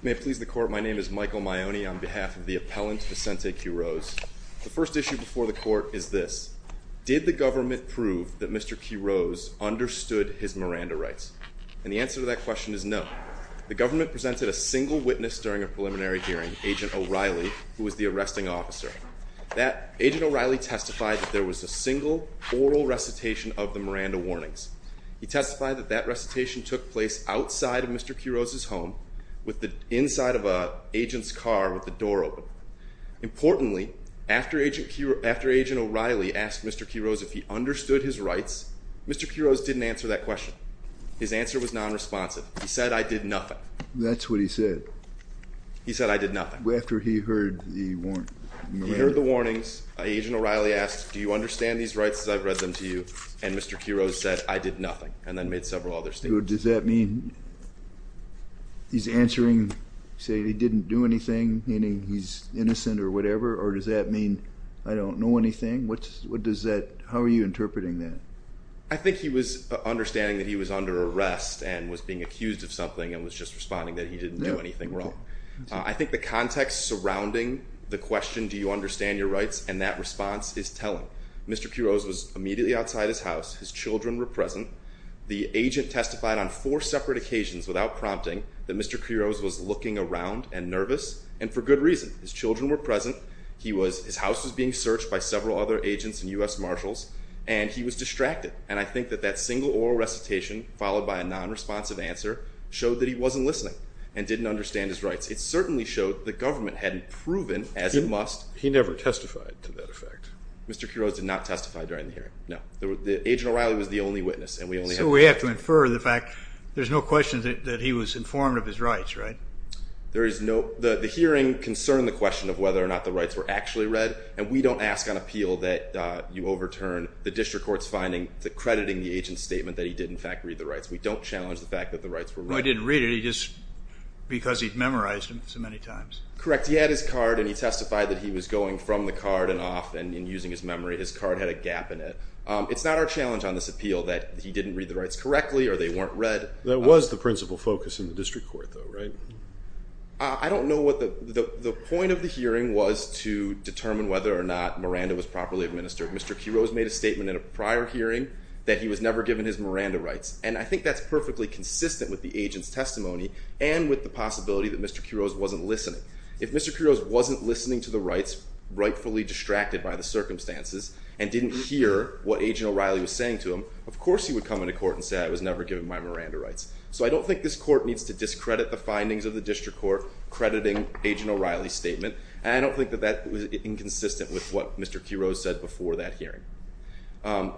May I please the court, my name is Michael Maione on behalf of the appellant Vicente Quiroz. The first issue before the court is this. Did the government prove that Mr. Quiroz understood his Miranda rights? And the answer to that question is no. The government presented a single witness during a preliminary hearing, Agent O'Reilly who was the arresting officer. Agent O'Reilly testified that there was a single oral recitation of the Miranda warnings. He testified that that recitation took place outside of Mr. Quiroz's home with the inside of an agent's car with the door open. Importantly, after Agent O'Reilly asked Mr. Quiroz if he understood his rights, Mr. Quiroz didn't answer that question. His answer was non-responsive. He said, I did nothing. That's what he said. He said, I did nothing. After he heard the warnings, Agent O'Reilly asked, do you understand these rights as I've read them to you? And Mr. Quiroz said, I did nothing. And then made several other statements. So does that mean he's answering, saying he didn't do anything, meaning he's innocent or whatever? Or does that mean I don't know anything? What does that, how are you interpreting that? I think he was understanding that he was under arrest and was being accused of something and was just responding that he didn't do anything wrong. I think the context surrounding the question, do you understand your rights? And that response is telling. Mr. Quiroz was immediately outside his house. His children were present. The agent testified on four separate occasions without prompting that Mr. Quiroz was looking around and nervous. And for good reason. His children were present. He was, his house was being searched by several other agents and U.S. Marshals. And he was distracted. And I think that that single oral recitation followed by a non-responsive answer showed that he wasn't listening and didn't understand his rights. It certainly showed the government hadn't proven, as it must. He never testified to that effect. Mr. Quiroz did not testify during the hearing. No. The, Agent O'Reilly was the only witness and we only had one witness. So we have to infer the fact, there's no question that he was informed of his rights, right? There is no, the hearing concerned the question of whether or not the rights were actually read and we don't ask on appeal that you overturn the district court's finding that crediting the agent's statement that he did in fact read the rights. We don't challenge the fact that the rights were read. Well, he didn't read it. He just, because he'd memorized them so many times. Correct. He had his card and he testified that he was going from the card and off and using his memory. His card had a gap in it. It's not our challenge on this appeal that he didn't read the rights correctly or they weren't read. That was the principal focus in the district court though, right? I don't know what the, the point of the hearing was to determine whether or not Miranda was properly administered. Mr. Quiroz made a statement in a prior hearing that he was never given his Miranda rights and I think that's perfectly consistent with the agent's testimony and with the possibility that Mr. Quiroz wasn't listening. If Mr. Quiroz wasn't listening to the rights, rightfully distracted by the circumstances and didn't hear what Agent O'Reilly was saying to him, of course he would come into court and say, I was never given my Miranda rights. So I don't think this court needs to discredit the findings of the district court crediting Agent O'Reilly's statement and I don't think that that was inconsistent with what Mr. Quiroz said before that hearing.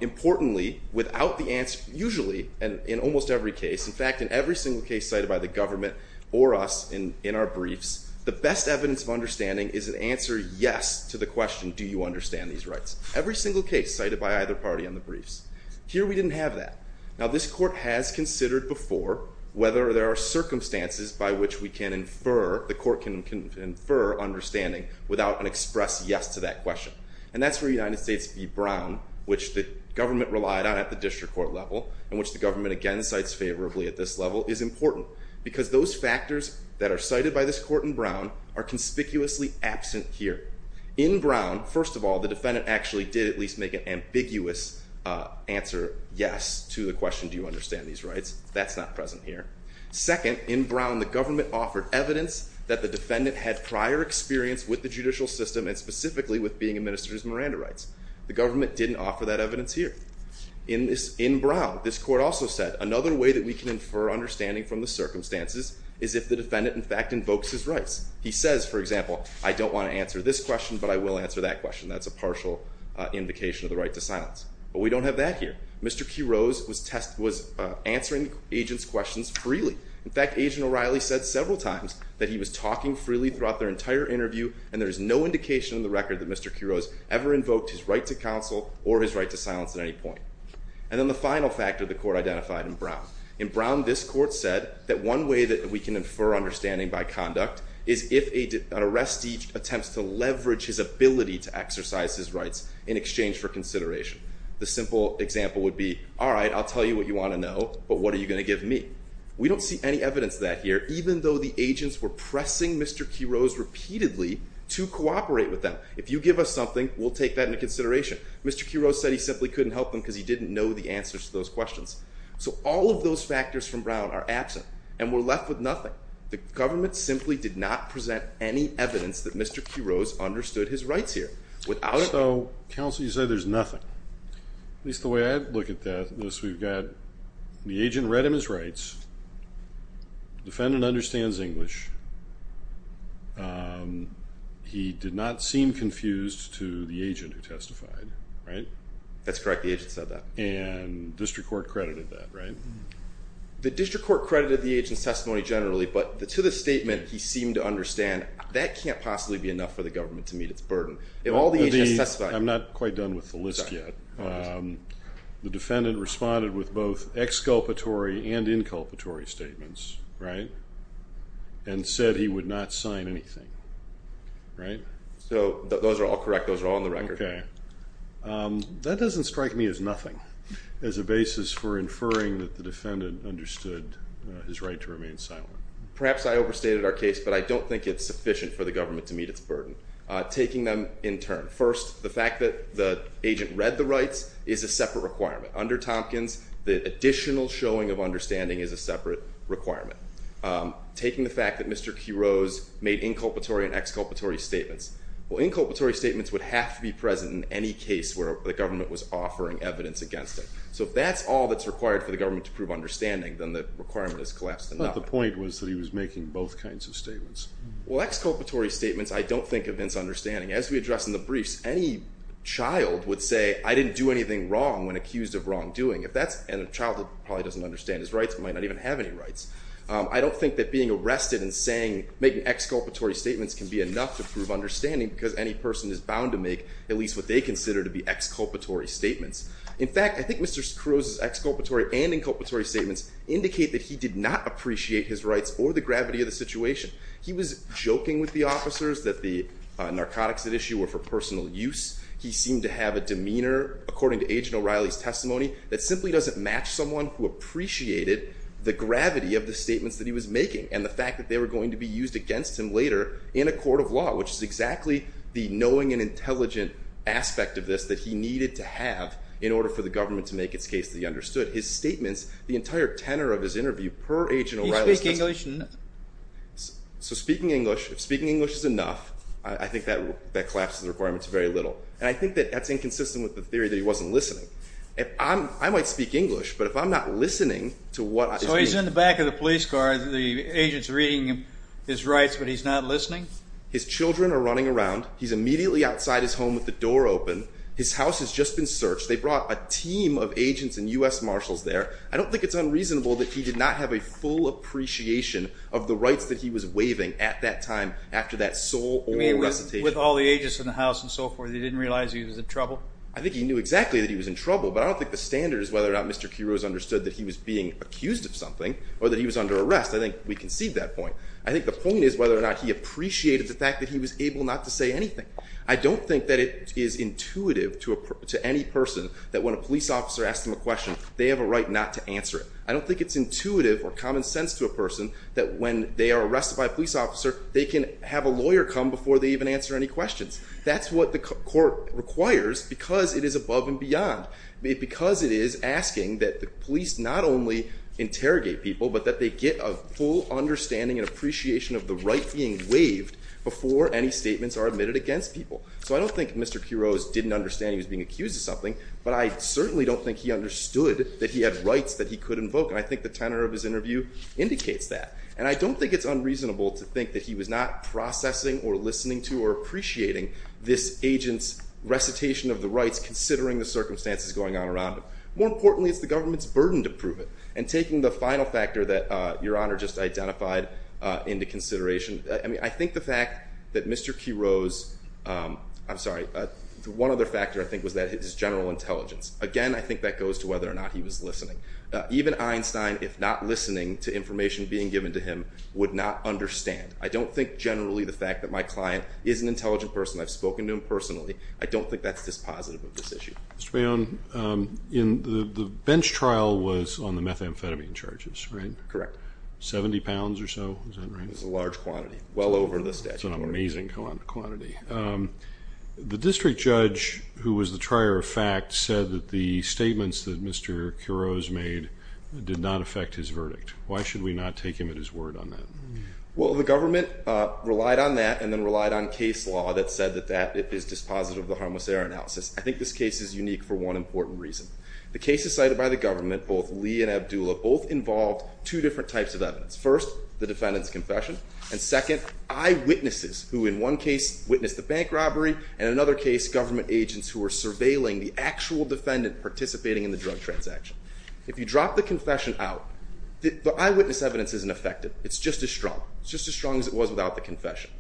Importantly, without the answer, usually and in almost every case, in fact in every single case cited by the government or us in our briefs, the best evidence of understanding is an answer yes to the question, do you understand these rights? Every single case cited by either party on the briefs. Here we didn't have that. Now this court has considered before whether there are circumstances by which we can infer, the court can infer understanding without an express yes to that question. And that's where United States v. Brown, which the government relied on at the district court level and which the government again cites favorably at this level, is important. Because those factors that are cited by this court in Brown are conspicuously absent here. In Brown, first of all, the defendant actually did at least make an ambiguous answer yes to the question, do you understand these rights? That's not present here. Second, in Brown the government offered evidence that the defendant had prior experience with the judicial system and specifically with being administered his Miranda rights. The government didn't offer that evidence here. In this, in Brown, this court also said, another way that we can infer understanding from the circumstances is if the defendant in fact invokes his rights. He says, for example, I don't want to answer this question, but I will answer that question. That's a partial indication of the right to silence. But we don't have that here. Mr. Quiroz was answering agents' questions freely. In fact, Agent O'Reilly said several times that he was talking freely throughout their entire interview and there is no indication in the record that Mr. Quiroz ever invoked his right to counsel or his right to silence at any point. And then the final factor the court identified in Brown. In Brown, this court said that one way that we can infer understanding by conduct is if an arrestee attempts to leverage his ability to exercise his rights in exchange for consideration. The simple example would be, all right, I'll tell you what you want to know, but what are you going to give me? We don't see any evidence of that here, even though the agents were pressing Mr. Quiroz repeatedly to cooperate with them. If you give us something, we'll take that into consideration. Mr. Quiroz said he simply couldn't help them because he didn't know the answers to those questions. So all of those factors from Brown are absent, and we're left with nothing. The government simply did not present any evidence that Mr. Quiroz understood his rights here. Without it- So, counsel, you say there's nothing. At least the way I look at that, we've got the agent read him his rights. Defendant understands English. He did not seem confused to the agent who testified, right? That's correct, the agent said that. And district court credited that, right? The district court credited the agent's testimony generally, but to the statement, he seemed to understand that can't possibly be enough for the government to meet its burden. If all the agents testified- I'm not quite done with the list yet. The defendant responded with both exculpatory and inculpatory statements, right? And said he would not sign anything, right? So those are all correct. Those are all on the record. Okay, that doesn't strike me as nothing, as a basis for inferring that the defendant understood his right to remain silent. Perhaps I overstated our case, but I don't think it's sufficient for the government to meet its burden. Taking them in turn. First, the fact that the agent read the rights is a separate requirement. Under Tompkins, the additional showing of understanding is a separate requirement. Taking the fact that Mr. Quiroz made inculpatory and exculpatory statements. Well, inculpatory statements would have to be present in any case where the government was offering evidence against it. So if that's all that's required for the government to prove understanding, then the requirement is collapsed enough. But the point was that he was making both kinds of statements. Well, exculpatory statements, I don't think evince understanding. As we addressed in the briefs, any child would say, I didn't do anything wrong when accused of wrongdoing. If that's in a child that probably doesn't understand his rights, he might not even have any rights. I don't think that being arrested and saying, making exculpatory statements can be enough to prove understanding because any person is bound to make at least what they consider to be exculpatory statements. In fact, I think Mr. Quiroz's exculpatory and inculpatory statements indicate that he did not appreciate his rights or the gravity of the situation. He was joking with the officers that the narcotics at issue were for personal use. He seemed to have a demeanor, according to Agent O'Reilly's testimony, that simply doesn't match someone who appreciated the gravity of the statements that he was making. And the fact that they were going to be used against him later in a court of law, which is exactly the knowing and intelligent aspect of this that he needed to have in order for the government to make its case that he understood. His statements, the entire tenor of his interview per Agent O'Reilly- He didn't speak English? So speaking English, if speaking English is enough, I think that collapses the requirements very little. And I think that that's inconsistent with the theory that he wasn't listening. If I'm, I might speak English, but if I'm not listening to what- So he's in the back of the police car, the agent's reading his rights, but he's not listening? His children are running around. He's immediately outside his home with the door open. His house has just been searched. They brought a team of agents and U.S. Marshals there. I don't think it's unreasonable that he did not have a full appreciation of the rights that he was waiving at that time, after that sole oral recitation. With all the agents in the house and so forth, he didn't realize he was in trouble? I think he knew exactly that he was in trouble, but I don't think the standard is whether or not Mr. Quiroz understood that he was being accused of something or that he was under arrest. I think we can see that point. I think the point is whether or not he appreciated the fact that he was able not to say anything. I don't think that it is intuitive to any person that when a police officer asks them a question, they have a right not to answer it. I don't think it's intuitive or common sense to a person that when they are arrested by a police officer, they can have a lawyer come before they even answer any questions. That's what the court requires because it is above and beyond. Because it is asking that the police not only interrogate people, but that they get a full understanding and appreciation of the right being waived before any statements are admitted against people. So I don't think Mr. Quiroz didn't understand he was being accused of something, but I certainly don't think he understood that he had rights that he could invoke. I think the tenor of his interview indicates that. And I don't think it's unreasonable to think that he was not processing or listening to or appreciating this agent's recitation of the rights, considering the circumstances going on around him. More importantly, it's the government's burden to prove it. And taking the final factor that Your Honor just identified into consideration, I think the fact that Mr. Quiroz, I'm sorry, one other factor I think was that his general intelligence. Again, I think that goes to whether or not he was listening. Even Einstein, if not listening to information being given to him, would not understand. I don't think generally the fact that my client is an intelligent person, I've spoken to him personally, I don't think that's dispositive of this issue. Mr. Bayon, the bench trial was on the methamphetamine charges, right? Correct. Seventy pounds or so, is that right? It was a large quantity, well over the statute. It's an amazing quantity. The district judge, who was the trier of fact, said that the statements that Mr. Quiroz made did not affect his verdict. Why should we not take him at his word on that? Well, the government relied on that and then relied on case law that said that that is dispositive of the harmless error analysis. I think this case is unique for one important reason. The cases cited by the government, both Lee and Abdullah, both involved two different types of evidence. First, the defendant's confession. And second, eyewitnesses who in one case witnessed the bank robbery, and in another case, government agents who were surveilling the actual defendant participating in the drug transaction. If you drop the confession out, the eyewitness evidence isn't affected. It's just as strong. It's just as strong as it was without the confession.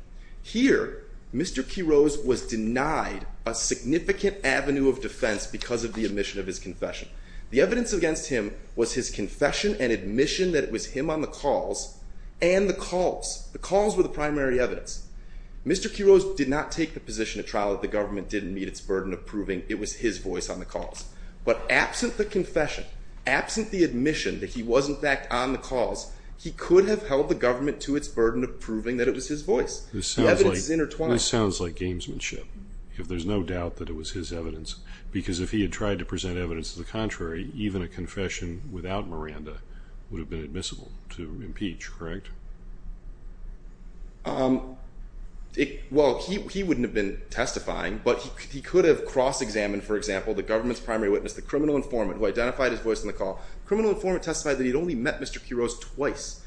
Here, Mr. Quiroz was denied a significant avenue of defense because of the admission of his confession. The evidence against him was his confession and admission that it was him on the calls and the calls. The calls were the primary evidence. Mr. Quiroz did not take the position at trial that the government didn't meet its burden of proving it was his voice on the calls. But absent the confession, absent the admission that he was, in fact, on the calls, he could have held the government to its burden of proving that it was his voice. The evidence is intertwined. This sounds like gamesmanship, if there's no doubt that it was his evidence. Because if he had tried to present evidence to the contrary, even a confession without Miranda would have been admissible to impeach, correct? Well, he wouldn't have been testifying, but he could have cross-examined, for example, the government's primary witness, the criminal informant, who identified his voice on the call. The criminal informant testified that he'd only met Mr. Quiroz twice.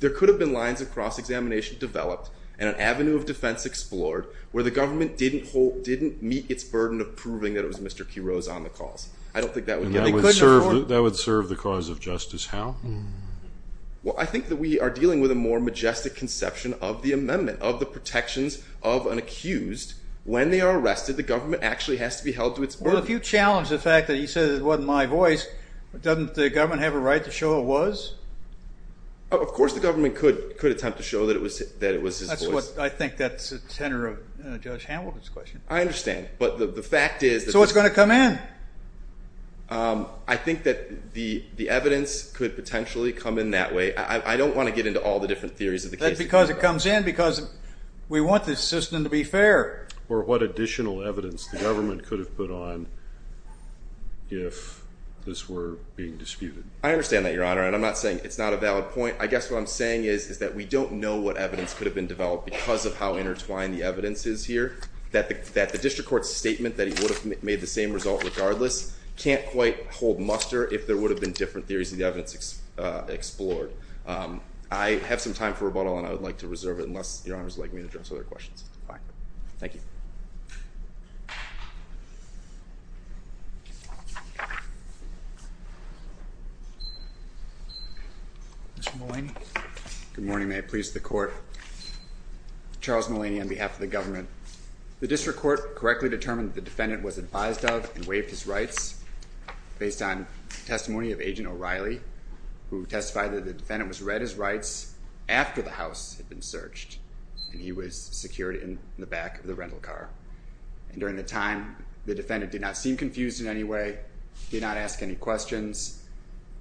There could have been lines of cross-examination developed and an avenue of defense explored where the government didn't meet its burden of proving that it was Mr. Quiroz on the calls. I don't think that would get him. That would serve the cause of justice. How? Well, I think that we are dealing with a more majestic conception of the amendment, of the protections of an accused. When they are arrested, the government actually has to be held to its burden. Well, if you challenge the fact that he said it wasn't my voice, doesn't the government have a right to show it was? Of course the government could attempt to show that it was his voice. I think that's the tenor of Judge Hamilton's question. I understand, but the fact is... So it's going to come in. I think that the evidence could potentially come in that way. I don't want to get into all the different theories of the case. That's because it comes in because we want this system to be fair. Or what additional evidence the government could have put on if this were being disputed. I understand that, Your Honor, and I'm not saying it's not a valid point. I guess what I'm saying is that we don't know what evidence could have been developed because of how intertwined the evidence is here. That the district court's statement that he would have made the same result regardless can't quite hold muster if there would have been different theories of the evidence explored. I have some time for rebuttal, and I would like to reserve it unless Your Honor would like me to address other questions. Fine. Thank you. Mr. Mullaney. Good morning. May it please the court. Charles Mullaney on behalf of the government. The district court correctly determined that the defendant was advised of and waived his rights based on testimony of Agent O'Reilly who testified that the defendant was read his rights after the house had been searched and he was secured in the back of the rental car. And during the time, the defendant did not seem confused in any way, did not ask any questions,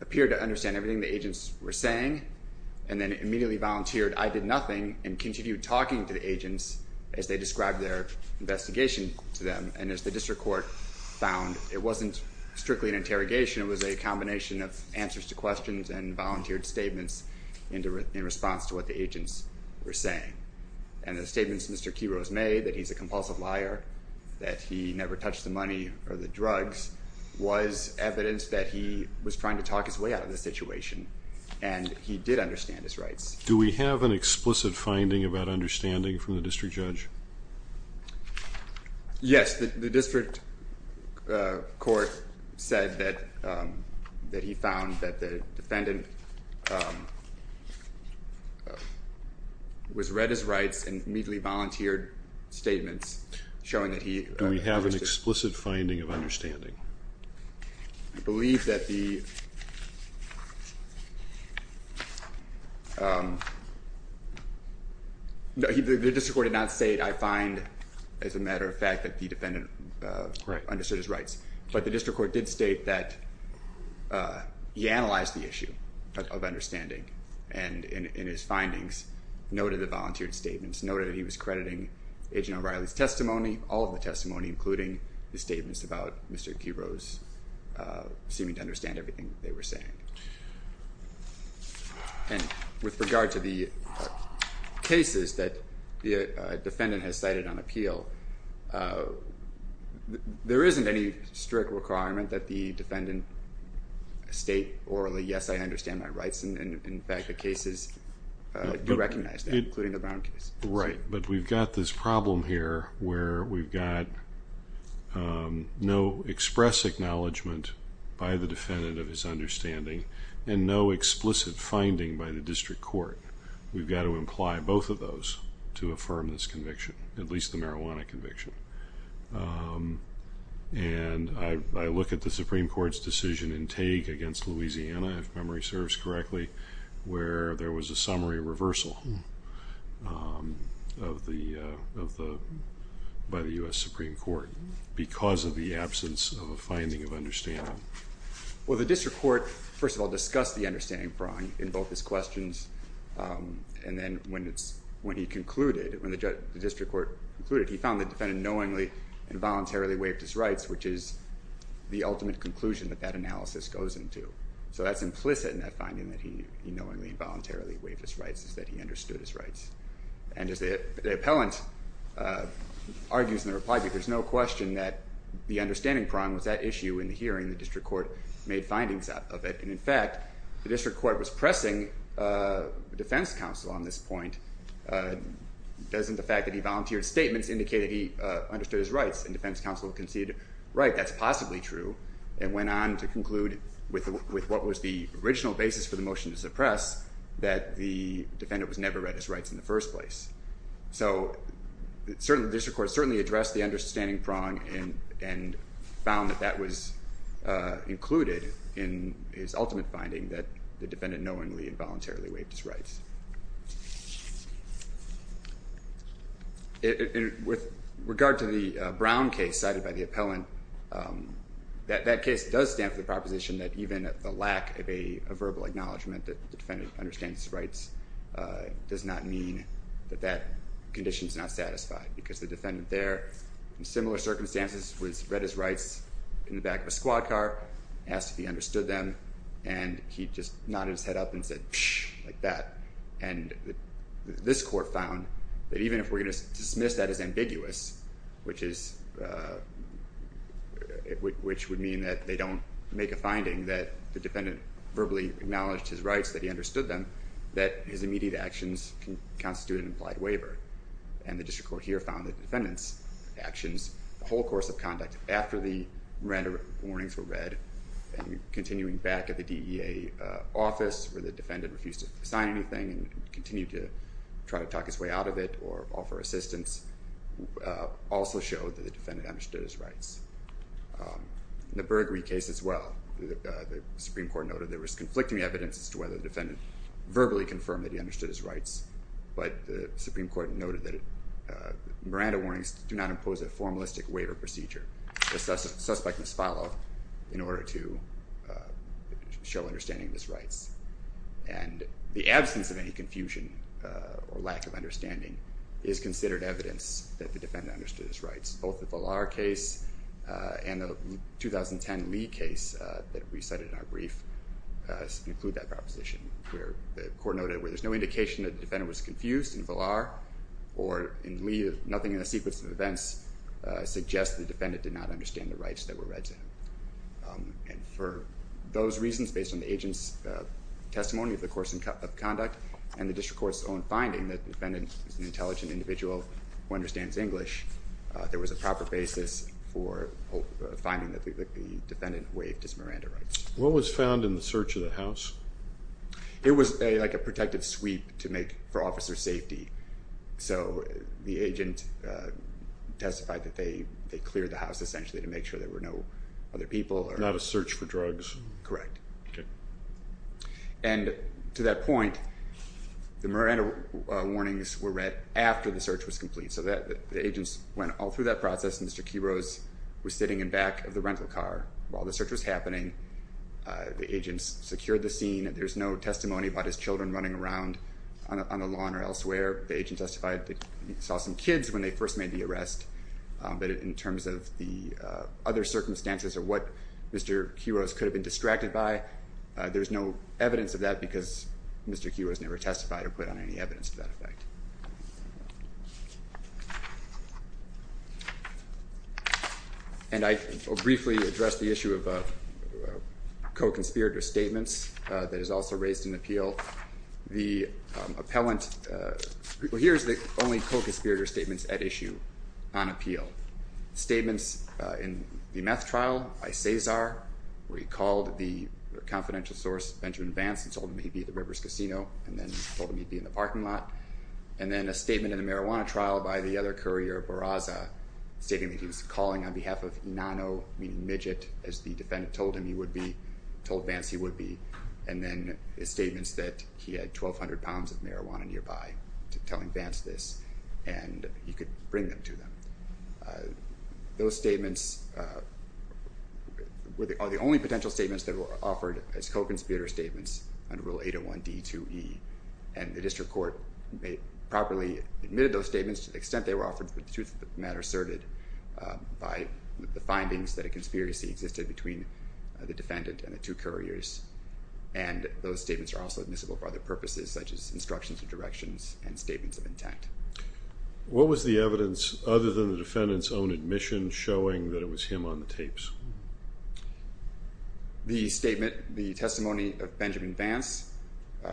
appeared to understand everything the agents were saying, and then immediately volunteered, I did nothing, and continued talking to the agents as they described their investigation to them. And as the district court found, it wasn't strictly an interrogation, it was a combination of answers to questions and volunteered statements in response to what the agents were saying. And the statements Mr. Quiroz made, that he's a compulsive liar, that he never touched the money or the drugs, was evidence that he was trying to talk his way out of the situation, and he did understand his rights. Do we have an explicit finding about understanding from the district judge? Yes. The district court said that he found that the defendant was read his rights and immediately volunteered statements showing that he... Do we have an explicit finding of understanding? I believe that the... No, the district court did not state, I find as a matter of fact that the defendant understood his rights. But the district court did state that he analyzed the issue of understanding and in his findings noted the volunteered statements, noted that he was crediting Agent O'Reilly's testimony, all of the testimony including the statements about Mr. Quiroz seeming to understand everything they were saying. And with regard to the cases that the defendant has cited on appeal, there isn't any strict requirement that the defendant state orally, yes, I understand my rights, and in fact the cases do recognize that, including the Brown case. Right, but we've got this problem here where we've got no express acknowledgment by the defendant of his understanding and no explicit finding by the district court. We've got to imply both of those to affirm this conviction, at least the marijuana conviction. And I look at the Supreme Court's decision in Tague against Louisiana, if memory serves correctly, where there was a summary reversal of the, by the U.S. Supreme Court because of the absence of a finding of understanding. Well, the district court, first of all, discussed the understanding in both his questions and then when he concluded, when the district court concluded, he found the defendant knowingly and voluntarily waived his rights, which is the ultimate conclusion that that analysis goes into. So that's implicit in that finding that he knowingly and voluntarily waived his rights is that he understood his rights. And as the appellant argues in the reply, there's no question that the understanding problem was that issue in the hearing, the district court made findings of it, and in fact, the district court was pressing the defense counsel on this point. Doesn't the fact that he volunteered statements indicate that he understood his rights and defense counsel conceded, right, that's possibly true, and went on to conclude with what was the original basis for the motion to suppress, that the defendant was never read his rights in the first place. So the district court certainly addressed the understanding prong and found that that was included in his ultimate finding that the defendant knowingly and voluntarily waived his rights. With regard to the Brown case cited by the appellant, that case does stand for the proposition that even the lack of a verbal acknowledgment that the defendant understands his rights does not mean that that condition is not satisfied because the defendant there, in similar circumstances, was read his rights in the back of a squad car, asked if he understood them, and he just nodded his head up and said, pssh, like that. And this court found that even if we're going to dismiss that as ambiguous, which would mean that they don't make a finding, that the defendant verbally acknowledged his rights, that he understood them, that his immediate actions can constitute an implied waiver. And the district court here found the defendant's actions the whole course of conduct after the Miranda warnings were read and continuing back at the DEA office where the defendant refused to sign anything and continued to try to talk his way out of it or offer assistance, also showed that the defendant understood his rights. In the Burgery case as well, the Supreme Court noted there was conflicting evidence as to whether the defendant verbally confirmed that he understood his rights, but the Supreme Court noted that Miranda warnings do not impose a formalistic waiver procedure. The suspect must follow in order to show understanding of his rights. And the absence of any confusion or lack of understanding is considered evidence that the defendant understood his rights, both the Villar case and the 2010 Lee case that we cited in our brief include that proposition where the court noted where there's no indication that the defendant was confused in Villar or in Lee, nothing in the sequence of events suggests the defendant did not understand the rights that were read to him. And for those reasons, based on the agent's testimony of the course of conduct and the district court's own finding that the defendant is an intelligent individual who understands English, there was a proper basis for finding that the defendant waived his Miranda rights. What was found in the search of the house? It was like a protective sweep to make for officer safety. So the agent testified that they cleared the house essentially to make sure there were no other people. Not a search for drugs? Correct. And to that point, the Miranda warnings were read after the search was complete. So the agents went all through that process and Mr. Quiroz was sitting in back of the rental car while the search was happening. The agents secured the scene. There's no testimony about his children running around on the lawn or elsewhere. The agent testified that he saw some kids when they first made the arrest. But in terms of the other circumstances or what Mr. Quiroz could have been distracted by, there's no evidence of that because Mr. Quiroz never testified or put on any evidence to that effect. And I will briefly address the issue of co-conspirator statements that is also raised in the appeal. The appellant... Well, here's the only co-conspirator statements at issue on appeal. Statements in the meth trial by Cesar where he called the confidential source, Benjamin Vance, and told him he'd be at the Rivers Casino and then told him he'd be in the parking lot. And then a statement in the marijuana trial by the other courier, Barraza, stating that he was calling on behalf of Inano, meaning Midget, as the defendant told him he would be, told Vance he would be, and then statements that he had 1,200 pounds of marijuana nearby telling Vance this, and he could bring them to them. Those statements are the only potential statements that were offered as co-conspirator statements under Rule 801D2E, and the district court properly admitted those statements to the extent they were offered for the truth of the matter asserted by the findings that a conspiracy existed between the defendant and the two couriers. And those statements are also admissible for other purposes such as instructions or directions and statements of intent. What was the evidence, other than the defendant's own admission, showing that it was him on the tapes? The statement, the testimony of Benjamin Vance,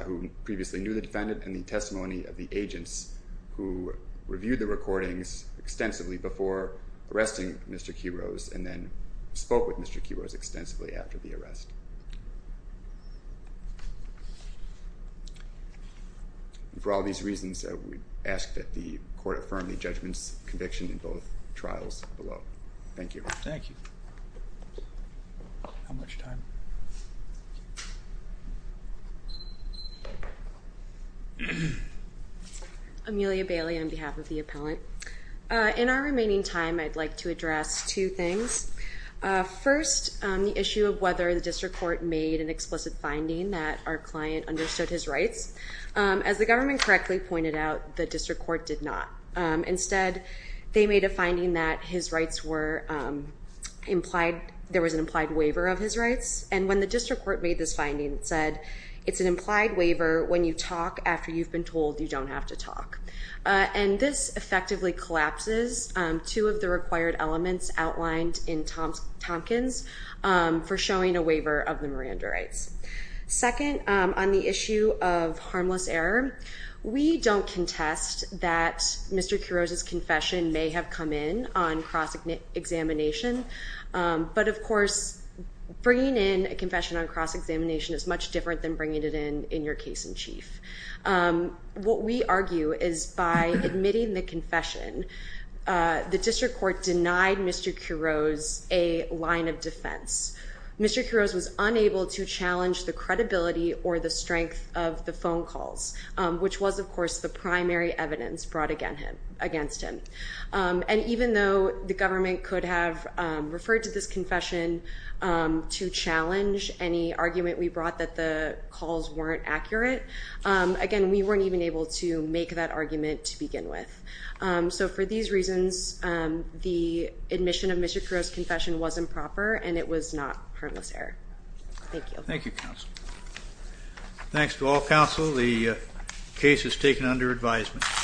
who previously knew the defendant, and the testimony of the agents who reviewed the recordings extensively before arresting Mr. Quiroz and then spoke with Mr. Quiroz extensively after the arrest. And for all these reasons, we ask that the court affirm the judgment's conviction in both trials below. Thank you. Amelia Bailey on behalf of the appellant. In our remaining time, I'd like to address two things. First, the issue of whether the district court made an explicit finding that our client understood his rights. As the government correctly pointed out, the district court did not. Instead, they made a finding that his rights were implied... there was an implied waiver of his rights. And when the district court made this finding, it said, it's an implied waiver when you talk after you've been told you don't have to talk. And this effectively collapses two of the required elements outlined in Tompkins for showing a waiver of the Miranda rights. Second, on the issue of harmless error, we don't contest that Mr. Quiroz's confession may have come in on cross-examination. Um, but of course, bringing in a confession on cross-examination is much different than bringing it in in your case in chief. Um, what we argue is, by admitting the confession, uh, the district court denied Mr. Quiroz a line of defense. Mr. Quiroz was unable to challenge the credibility or the strength of the phone calls. Um, which was, of course, the primary evidence brought against him. Um, and even though the government could have, um, referred to this confession, um, to challenge any argument we brought that the calls weren't accurate, um, again, we weren't even able to make that argument to begin with. Um, so for these reasons, um, the admission of Mr. Quiroz's confession was improper, and it was not harmless error. Thank you. Thank you, counsel. Thanks to all counsel. The, uh, case is taken under advisement.